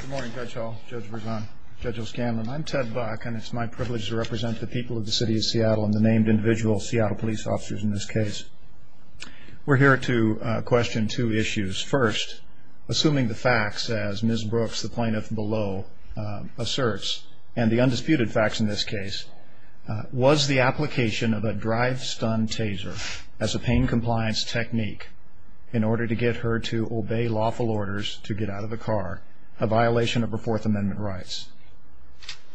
Good morning, Judge Hall, Judge Berzon, Judge O'Scanlan. I'm Ted Buck, and it's my privilege to represent the people of the City of Seattle and the named individual Seattle police officers in this case. We're here to question two issues. First, assuming the facts as Ms. Brooks, the plaintiff below, asserts, and the undisputed facts in this case, was the application of a drive-stun taser as a pain compliance technique in order to get her to obey lawful orders to get out of the car a violation of her Fourth Amendment rights?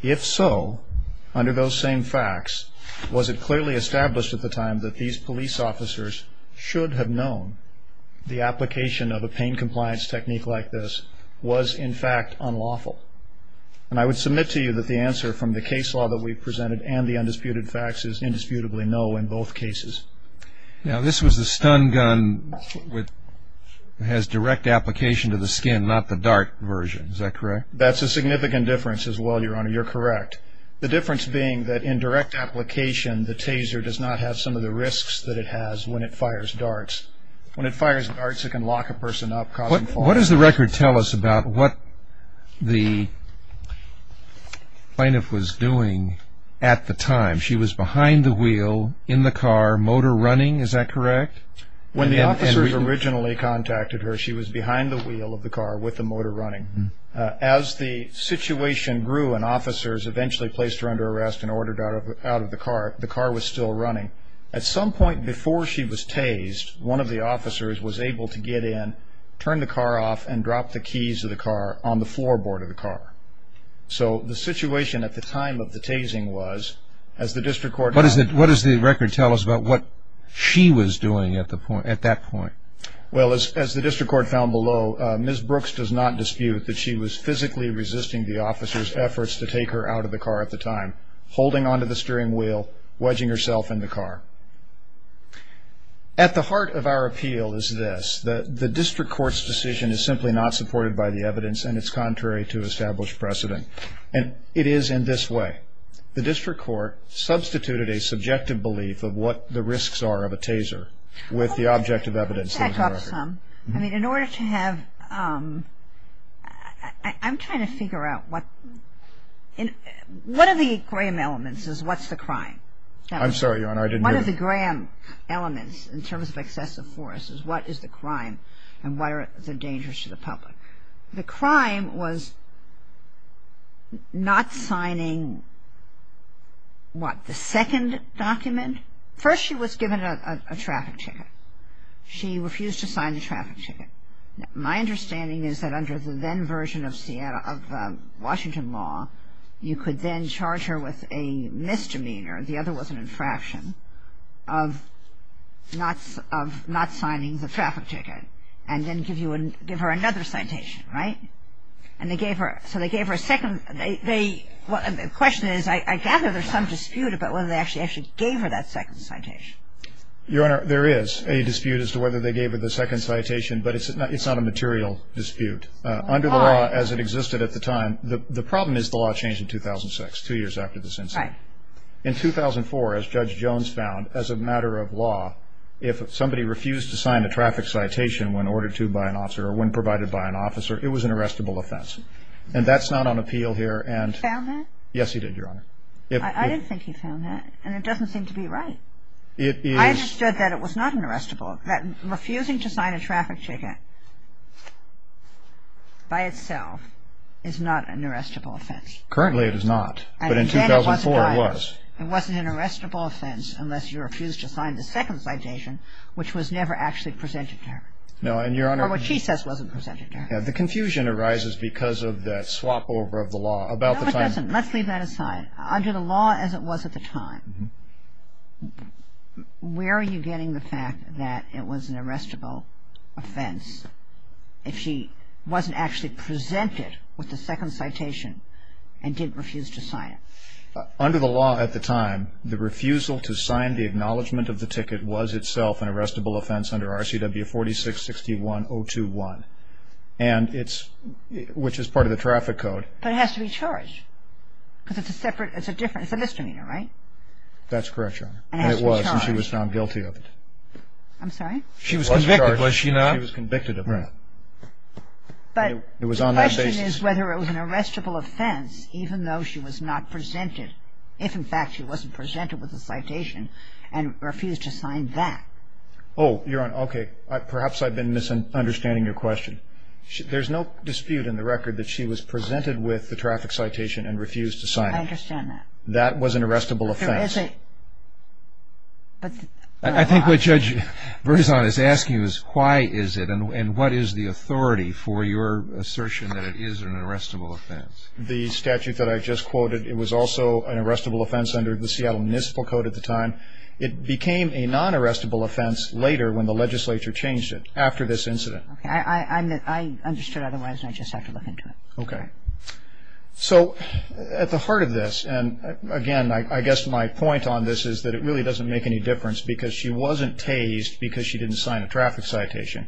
If so, under those same facts, was it clearly established at the time that these police officers should have known the application of a pain compliance technique like this was in fact unlawful? And I would submit to you that the answer from the case law that we presented and the undisputed facts is indisputably no in both cases. Now, this was a stun gun that has direct application to the skin, not the dart version. Is that correct? That's a significant difference as well, Your Honor. You're correct. The difference being that in direct application, the taser does not have some of the risks that it has when it fires darts. What does the record tell us about what the plaintiff was doing at the time? She was behind the wheel in the car, motor running, is that correct? When the officers originally contacted her, she was behind the wheel of the car with the motor running. As the situation grew and officers eventually placed her under arrest and ordered her out of the car, the car was still running. At some point before she was tased, one of the officers was able to get in, turn the car off, and drop the keys of the car on the floorboard of the car. So the situation at the time of the tasing was, as the district court... What does the record tell us about what she was doing at that point? Well, as the district court found below, Ms. Brooks does not dispute that she was physically resisting the officers' efforts to take her out of the car at the time, holding onto the steering wheel, wedging herself in the car. At the heart of our appeal is this, that the district court's decision is simply not supported by the evidence and it's contrary to established precedent. And it is in this way. The district court substituted a subjective belief of what the risks are of a taser with the object of evidence in the record. I have some. I mean, in order to have... I'm trying to figure out what... One of the grim elements is what's the crime. I'm sorry, Your Honor, I didn't get it. One of the grim elements in terms of excessive force is what is the crime and what are the dangers to the public. The crime was not signing, what, the second document? First she was given a traffic ticket. She refused to sign the traffic ticket. My understanding is that under the then version of Washington law, you could then charge her with a misdemeanor, the other was an infraction, of not signing the traffic ticket and then give her another citation, right? And they gave her... So they gave her a second... The question is, I gather there's some dispute about whether they actually gave her that second citation. Your Honor, there is a dispute as to whether they gave her the second citation, but it's not a material dispute. Under the law as it existed at the time, the problem is the law changed in 2006, two years after this incident. Right. In 2004, as Judge Jones found, as a matter of law, if somebody refused to sign a traffic citation when ordered to by an officer or when provided by an officer, it was an arrestable offense. And that's not on appeal here and... He found that? Yes, he did, Your Honor. I didn't think he found that, and it doesn't seem to be right. It is... I understood that it was not an arrestable, that refusing to sign a traffic ticket by itself is not an arrestable offense. Currently, it is not, but in 2004, it was. It wasn't an arrestable offense unless you refused to sign the second citation, which was never actually presented to her. No, and Your Honor... Or what she says wasn't presented to her. The confusion arises because of that swap over of the law about the time... No, it doesn't. Let's leave that aside. Under the law as it was at the time, where are you getting the fact that it was an arrestable offense if she wasn't actually presented with the second citation and didn't refuse to sign it? Under the law at the time, the refusal to sign the acknowledgment of the ticket was itself an arrestable offense under RCW 46-61021, and it's, which is part of the traffic code. But it has to be charged, because it's a separate, it's a different, it's a misdemeanor, right? That's correct, Your Honor. And it has to be charged. And it was, and she was found guilty of it. I'm sorry? She was convicted of it. Was she not? She was convicted of it. But the question is whether it was an arrestable offense even though she was not presented, if in fact she wasn't presented with the citation, and refused to sign that. Oh, Your Honor, okay. Perhaps I've been misunderstanding your question. There's no dispute in the record that she was presented with the traffic citation and refused to sign it. I understand that. That was an arrestable offense. But there is a, but. I think what Judge Verzon is asking is why is it, and what is the authority for your assertion that it is an arrestable offense? The statute that I just quoted, it was also an arrestable offense under the Seattle Municipal Code at the time. It became a non-arrestable offense later when the legislature changed it, after this incident. Okay. I understood otherwise, and I just have to look into it. Okay. So at the heart of this, and again, I guess my point on this is that it really doesn't make any difference because she wasn't tased because she didn't sign a traffic citation.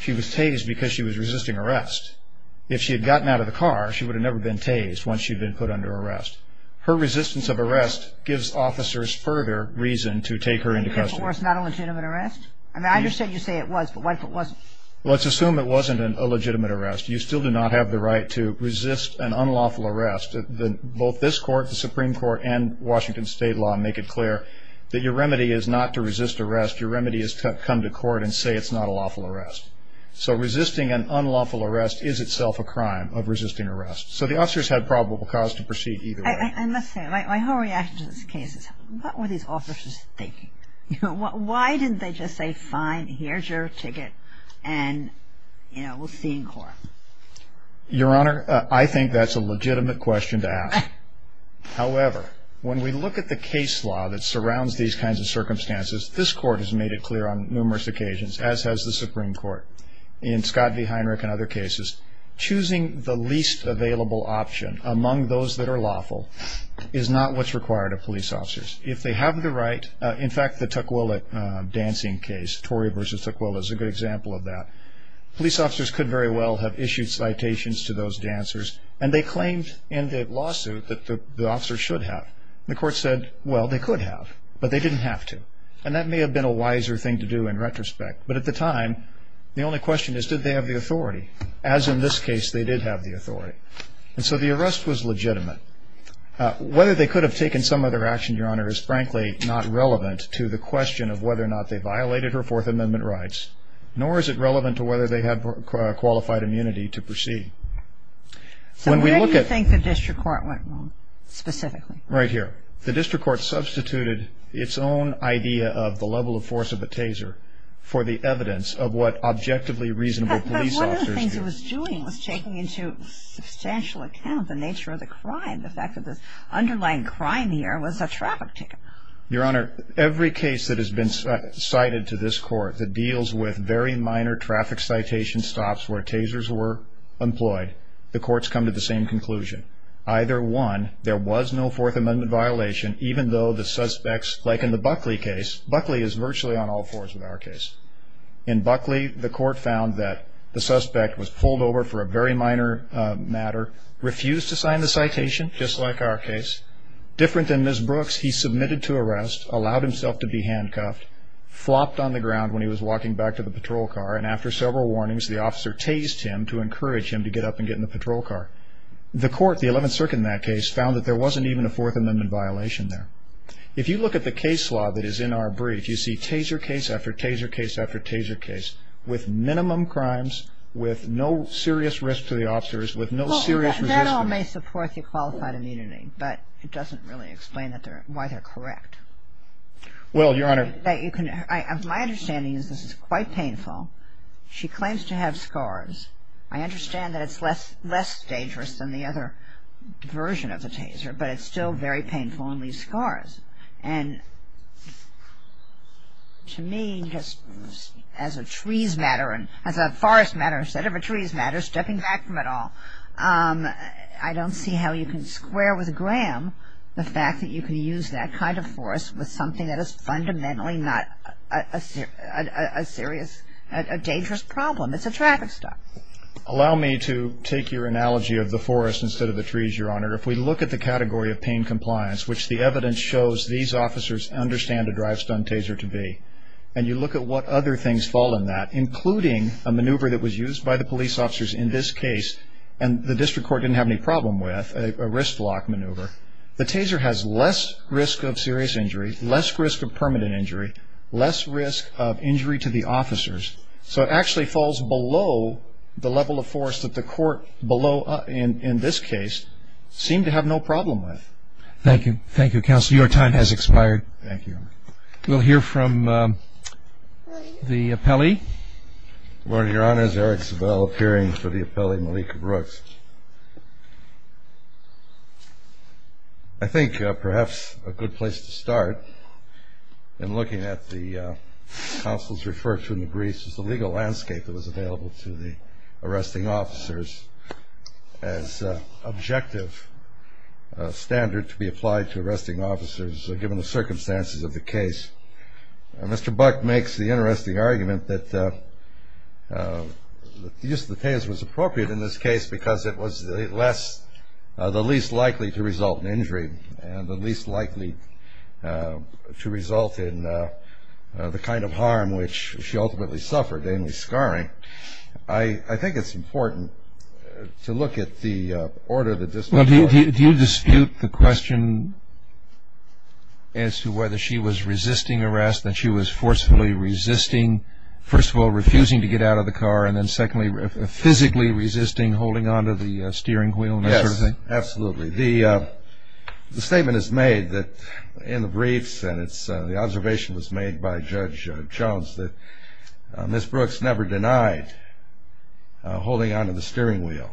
She was tased because she was resisting arrest. If she had gotten out of the car, she would have never been tased once she'd been put under arrest. Her resistance of arrest gives officers further reason to take her into custody. I mean, I understand you say it was, but what if it wasn't? Well, let's assume it wasn't a legitimate arrest. You still do not have the right to resist an unlawful arrest. Both this court, the Supreme Court, and Washington State law make it clear that your remedy is not to resist arrest. Your remedy is to come to court and say it's not a lawful arrest. So resisting an unlawful arrest is itself a crime of resisting arrest. So the officers had probable cause to proceed either way. I must say, my whole reaction to this case is what were these officers thinking? Why didn't they just say, fine, here's your ticket, and we'll see in court? Your Honor, I think that's a legitimate question to ask. However, when we look at the case law that surrounds these kinds of circumstances, this court has made it clear on numerous occasions, as has the Supreme Court, in Scott v. Heinrich and other cases, choosing the least available option among those that are lawful is not what's required of police officers. If they have the right, in fact, the Tukwila dancing case, Tory v. Tukwila is a good example of that, police officers could very well have issued citations to those dancers, and they claimed in the lawsuit that the officers should have. The court said, well, they could have, but they didn't have to. And that may have been a wiser thing to do in retrospect. But at the time, the only question is, did they have the authority? As in this case, they did have the authority. And so the arrest was legitimate. Whether they could have taken some other action, Your Honor, is frankly not relevant to the question of whether or not they violated her Fourth Amendment rights, nor is it relevant to whether they had qualified immunity to proceed. So where do you think the district court went wrong, specifically? Right here. The district court substituted its own idea of the level of force of a taser for the evidence of what objectively reasonable police officers do. What they were doing was taking into substantial account the nature of the crime, the fact that this underlying crime here was a traffic ticket. Your Honor, every case that has been cited to this court that deals with very minor traffic citation stops where tasers were employed, the courts come to the same conclusion. Either one, there was no Fourth Amendment violation, even though the suspects, like in the Buckley case, Buckley is virtually on all fours of our case. In Buckley, the court found that the suspect was pulled over for a very minor matter, refused to sign the citation, just like our case. Different than Ms. Brooks, he submitted to arrest, allowed himself to be handcuffed, flopped on the ground when he was walking back to the patrol car, and after several warnings the officer tased him to encourage him to get up and get in the patrol car. The court, the Eleventh Circuit in that case, found that there wasn't even a Fourth Amendment violation there. If you look at the case law that is in our brief, if you see taser case after taser case after taser case, with minimum crimes, with no serious risk to the officers, with no serious resistance... Well, that all may support the qualified immunity, but it doesn't really explain why they're correct. Well, Your Honor... My understanding is this is quite painful. She claims to have scars. I understand that it's less dangerous than the other version of the taser, but it's still very painful and leaves scars. And to me, just as a trees matter and as a forest matter, instead of a trees matter, stepping back from it all, I don't see how you can square with Graham the fact that you can use that kind of force with something that is fundamentally not a serious, a dangerous problem. It's a traffic stop. Allow me to take your analogy of the forest instead of the trees, Your Honor. If we look at the category of pain compliance, which the evidence shows these officers understand a drive-stun taser to be, and you look at what other things fall in that, including a maneuver that was used by the police officers in this case and the district court didn't have any problem with, a wrist-lock maneuver. The taser has less risk of serious injury, less risk of permanent injury, less risk of injury to the officers. So it actually falls below the level of force that the court below in this case seemed to have no problem with. Thank you. Thank you, Counsel. Your time has expired. Thank you, Your Honor. We'll hear from the appellee. Good morning, Your Honor. This is Eric Savelle, appearing for the appellee, Malika Brooks. I think perhaps a good place to start in looking at the counsels referred to in the briefs was the legal landscape that was available to the arresting officers as objective standard to be applied to arresting officers given the circumstances of the case. Mr. Buck makes the interesting argument that the use of the taser was appropriate in this case because it was the least likely to result in injury and the least likely to result in the kind of harm which she ultimately suffered, namely scarring. I think it's important to look at the order that this was ordered. Do you dispute the question as to whether she was resisting arrest, that she was forcefully resisting, first of all, refusing to get out of the car, and then, secondly, physically resisting holding onto the steering wheel and that sort of thing? Absolutely. The statement is made in the briefs, and the observation was made by Judge Jones, that Ms. Brooks never denied holding onto the steering wheel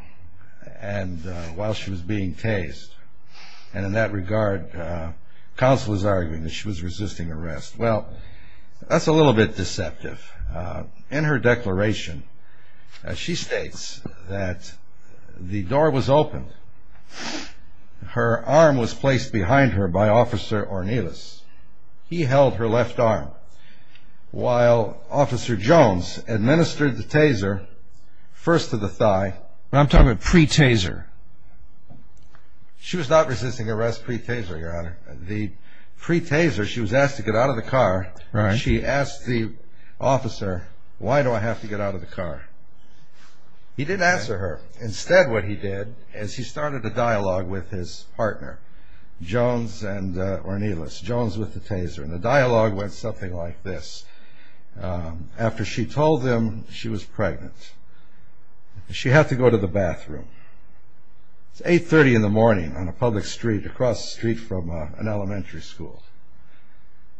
while she was being tased. And in that regard, counsel is arguing that she was resisting arrest. Well, that's a little bit deceptive. In her declaration, she states that the door was opened. Her arm was placed behind her by Officer Ornelas. He held her left arm while Officer Jones administered the taser first to the thigh. I'm talking about pre-taser. She was not resisting arrest pre-taser, Your Honor. The pre-taser, she was asked to get out of the car. She asked the officer, why do I have to get out of the car? He didn't answer her. Instead, what he did is he started a dialogue with his partner, Jones and Ornelas, Jones with the taser, and the dialogue went something like this. After she told them she was pregnant, she had to go to the bathroom. It was 8.30 in the morning on a public street across the street from an elementary school.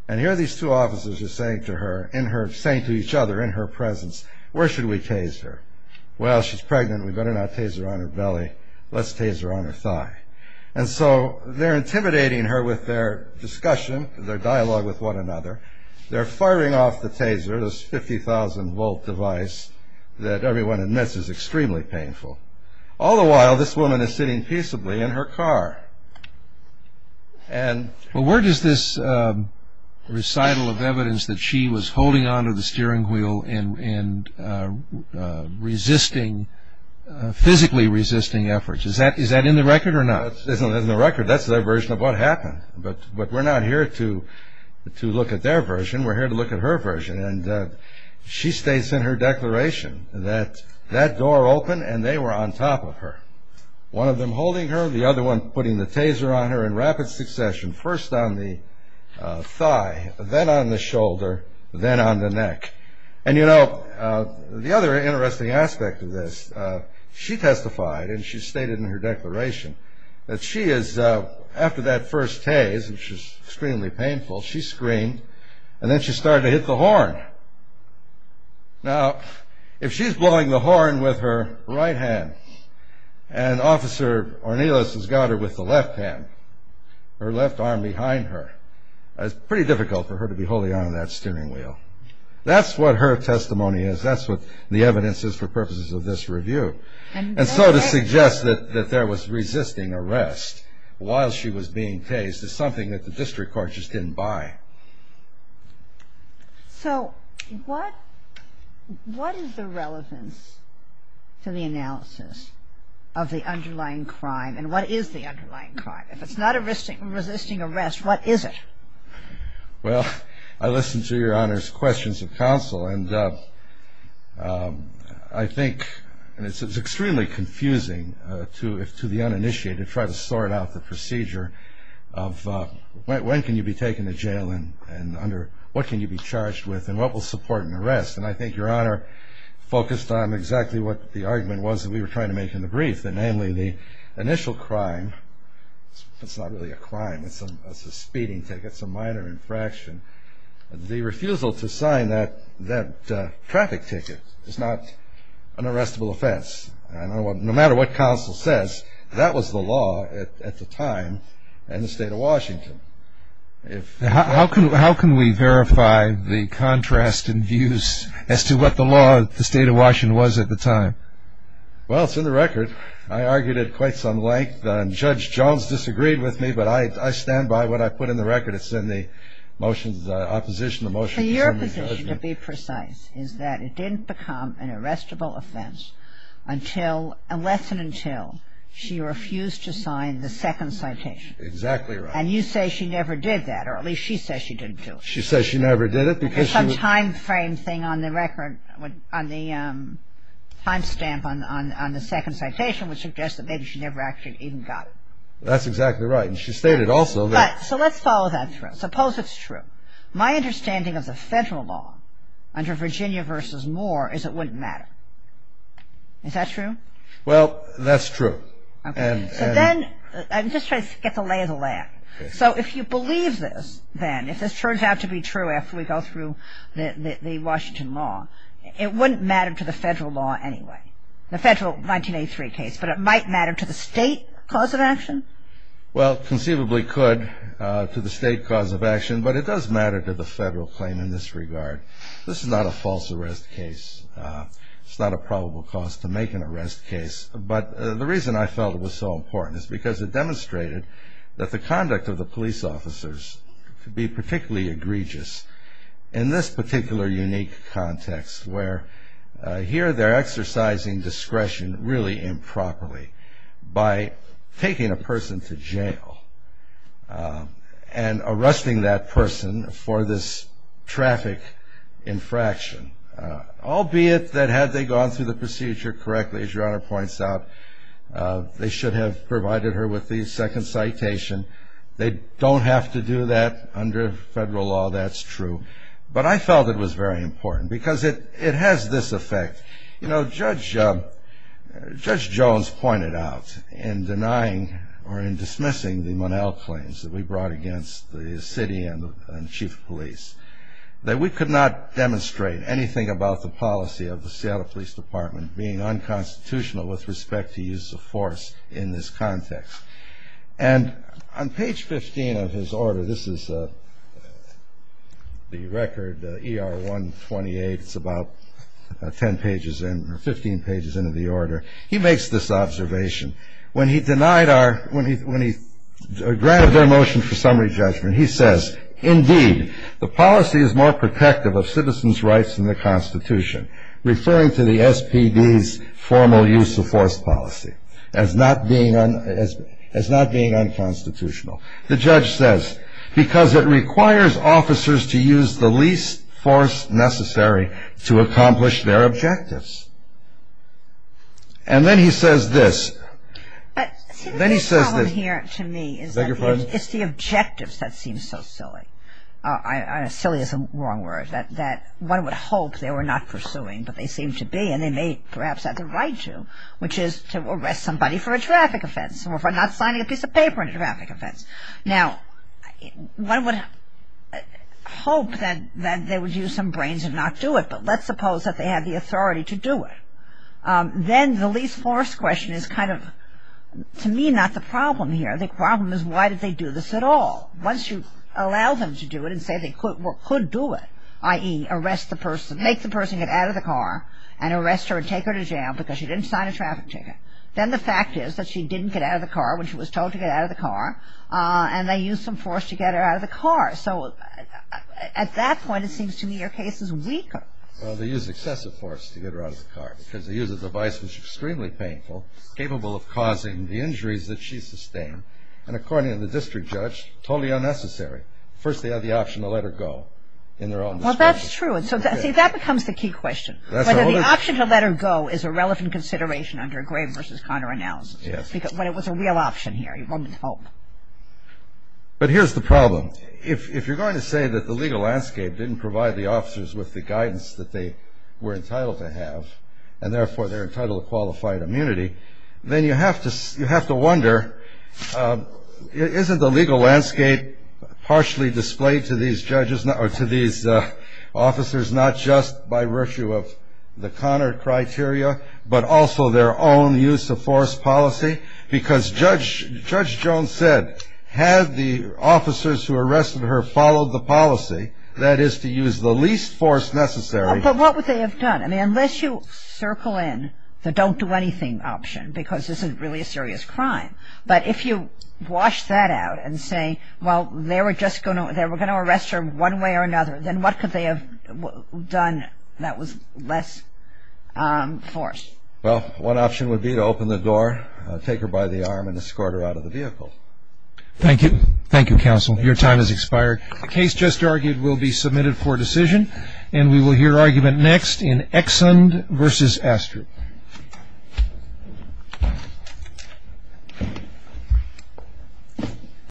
And here these two officers are saying to each other in her presence, where should we tase her? Well, she's pregnant. We better not tase her on her belly. Let's tase her on her thigh. And so they're intimidating her with their discussion, their dialogue with one another. They're firing off the taser, this 50,000-volt device that everyone admits is extremely painful. All the while, this woman is sitting peaceably in her car. Well, where does this recital of evidence that she was holding onto the steering wheel and resisting, physically resisting efforts, is that in the record or not? It's not in the record. That's their version of what happened. But we're not here to look at their version. We're here to look at her version. And she states in her declaration that that door opened and they were on top of her, one of them holding her, the other one putting the taser on her in rapid succession, first on the thigh, then on the shoulder, then on the neck. And, you know, the other interesting aspect of this, she testified, and she stated in her declaration, that she is, after that first tase, which is extremely painful, she screamed, and then she started to hit the horn. Now, if she's blowing the horn with her right hand and Officer Ornelas has got her with the left hand, her left arm behind her, it's pretty difficult for her to be holding onto that steering wheel. That's what her testimony is. That's what the evidence is for purposes of this review. And so to suggest that there was resisting arrest while she was being tased is something that the district court just didn't buy. So what is the relevance to the analysis of the underlying crime, and what is the underlying crime? If it's not a resisting arrest, what is it? Well, I listened to Your Honor's questions of counsel, and I think it's extremely confusing to the uninitiated to try to sort out the procedure of when can you be taken to jail, and what can you be charged with, and what will support an arrest. And I think Your Honor focused on exactly what the argument was that we were trying to make in the brief, namely the initial crime. It's not really a crime. It's a speeding ticket. It's a minor infraction. The refusal to sign that traffic ticket is not an arrestable offense. No matter what counsel says, that was the law at the time in the state of Washington. How can we verify the contrast in views as to what the law of the state of Washington was at the time? Well, it's in the record. I argued it quite some length, and Judge Jones disagreed with me, but I stand by what I put in the record. It's in the motion's opposition to the motion. So your position, to be precise, is that it didn't become an arrestable offense unless and until she refused to sign the second citation. Exactly right. And you say she never did that, or at least she says she didn't do it. She says she never did it because she was... There's some time frame thing on the record, on the time stamp on the second citation, which suggests that maybe she never actually even got it. That's exactly right, and she stated also that... So let's follow that through. Suppose it's true. My understanding of the federal law under Virginia v. Moore is it wouldn't matter. Is that true? Well, that's true. Okay. So then I'm just trying to get the lay of the land. So if you believe this, then, if this turns out to be true after we go through the Washington law, it wouldn't matter to the federal law anyway, the federal 1983 case, but it might matter to the state cause of action? Well, conceivably could to the state cause of action, but it does matter to the federal claim in this regard. This is not a false arrest case. It's not a probable cause to make an arrest case, but the reason I felt it was so important is because it demonstrated that the conduct of the police officers could be particularly egregious in this particular unique context where here they're exercising discretion really improperly by taking a person to jail and arresting that person for this traffic infraction, albeit that had they gone through the procedure correctly, as Your Honor points out, they should have provided her with the second citation. They don't have to do that under federal law. That's true. But I felt it was very important because it has this effect. You know, Judge Jones pointed out in denying or in dismissing the Monell claims that we brought against the city and the chief of police that we could not demonstrate anything about the policy of the Seattle Police Department being unconstitutional with respect to use of force in this context. And on page 15 of his order, this is the record, ER-128. It's about 10 pages in or 15 pages into the order. He makes this observation. When he denied our, when he grabbed our motion for summary judgment, he says, indeed, the policy is more protective of citizens' rights than the Constitution, referring to the SPD's formal use of force policy as not being unconstitutional. The judge says, because it requires officers to use the least force necessary to accomplish their objectives. And then he says this. Then he says this. The problem here to me is that it's the objectives that seem so silly. Silly is a wrong word. That one would hope they were not pursuing, but they seem to be, and they may perhaps have the right to, which is to arrest somebody for a traffic offense or for not signing a piece of paper in a traffic offense. Now, one would hope that they would use some brains and not do it, but let's suppose that they had the authority to do it. Then the least force question is kind of, to me, not the problem here. The problem is why did they do this at all? Once you allow them to do it and say they could do it, i.e., arrest the person, make the person get out of the car and arrest her and take her to jail because she didn't sign a traffic ticket, then the fact is that she didn't get out of the car when she was told to get out of the car, and they used some force to get her out of the car. So at that point, it seems to me your case is weaker. Well, they used excessive force to get her out of the car because they used a device which was extremely painful, capable of causing the injuries that she sustained, and according to the district judge, totally unnecessary. First, they had the option to let her go in their own description. Well, that's true. See, that becomes the key question, whether the option to let her go is a relevant consideration under Graves v. Conner analysis. Yes. Because when it was a real option here, you wouldn't hope. But here's the problem. If you're going to say that the legal landscape didn't provide the officers with the guidance that they were entitled to have, and therefore they're entitled to qualified immunity, then you have to wonder isn't the legal landscape partially displayed to these judges or to these officers not just by virtue of the Conner criteria, but also their own use of force policy? Because Judge Jones said, had the officers who arrested her followed the policy, that is to use the least force necessary. But what would they have done? I mean, unless you circle in the don't do anything option, because this is really a serious crime. But if you wash that out and say, well, they were just going to arrest her one way or another, then what could they have done that was less force? Well, one option would be to open the door, take her by the arm and escort her out of the vehicle. Thank you. Thank you, counsel. Your time has expired. The case just argued will be submitted for decision, and we will hear argument next in Exund v. Astrup.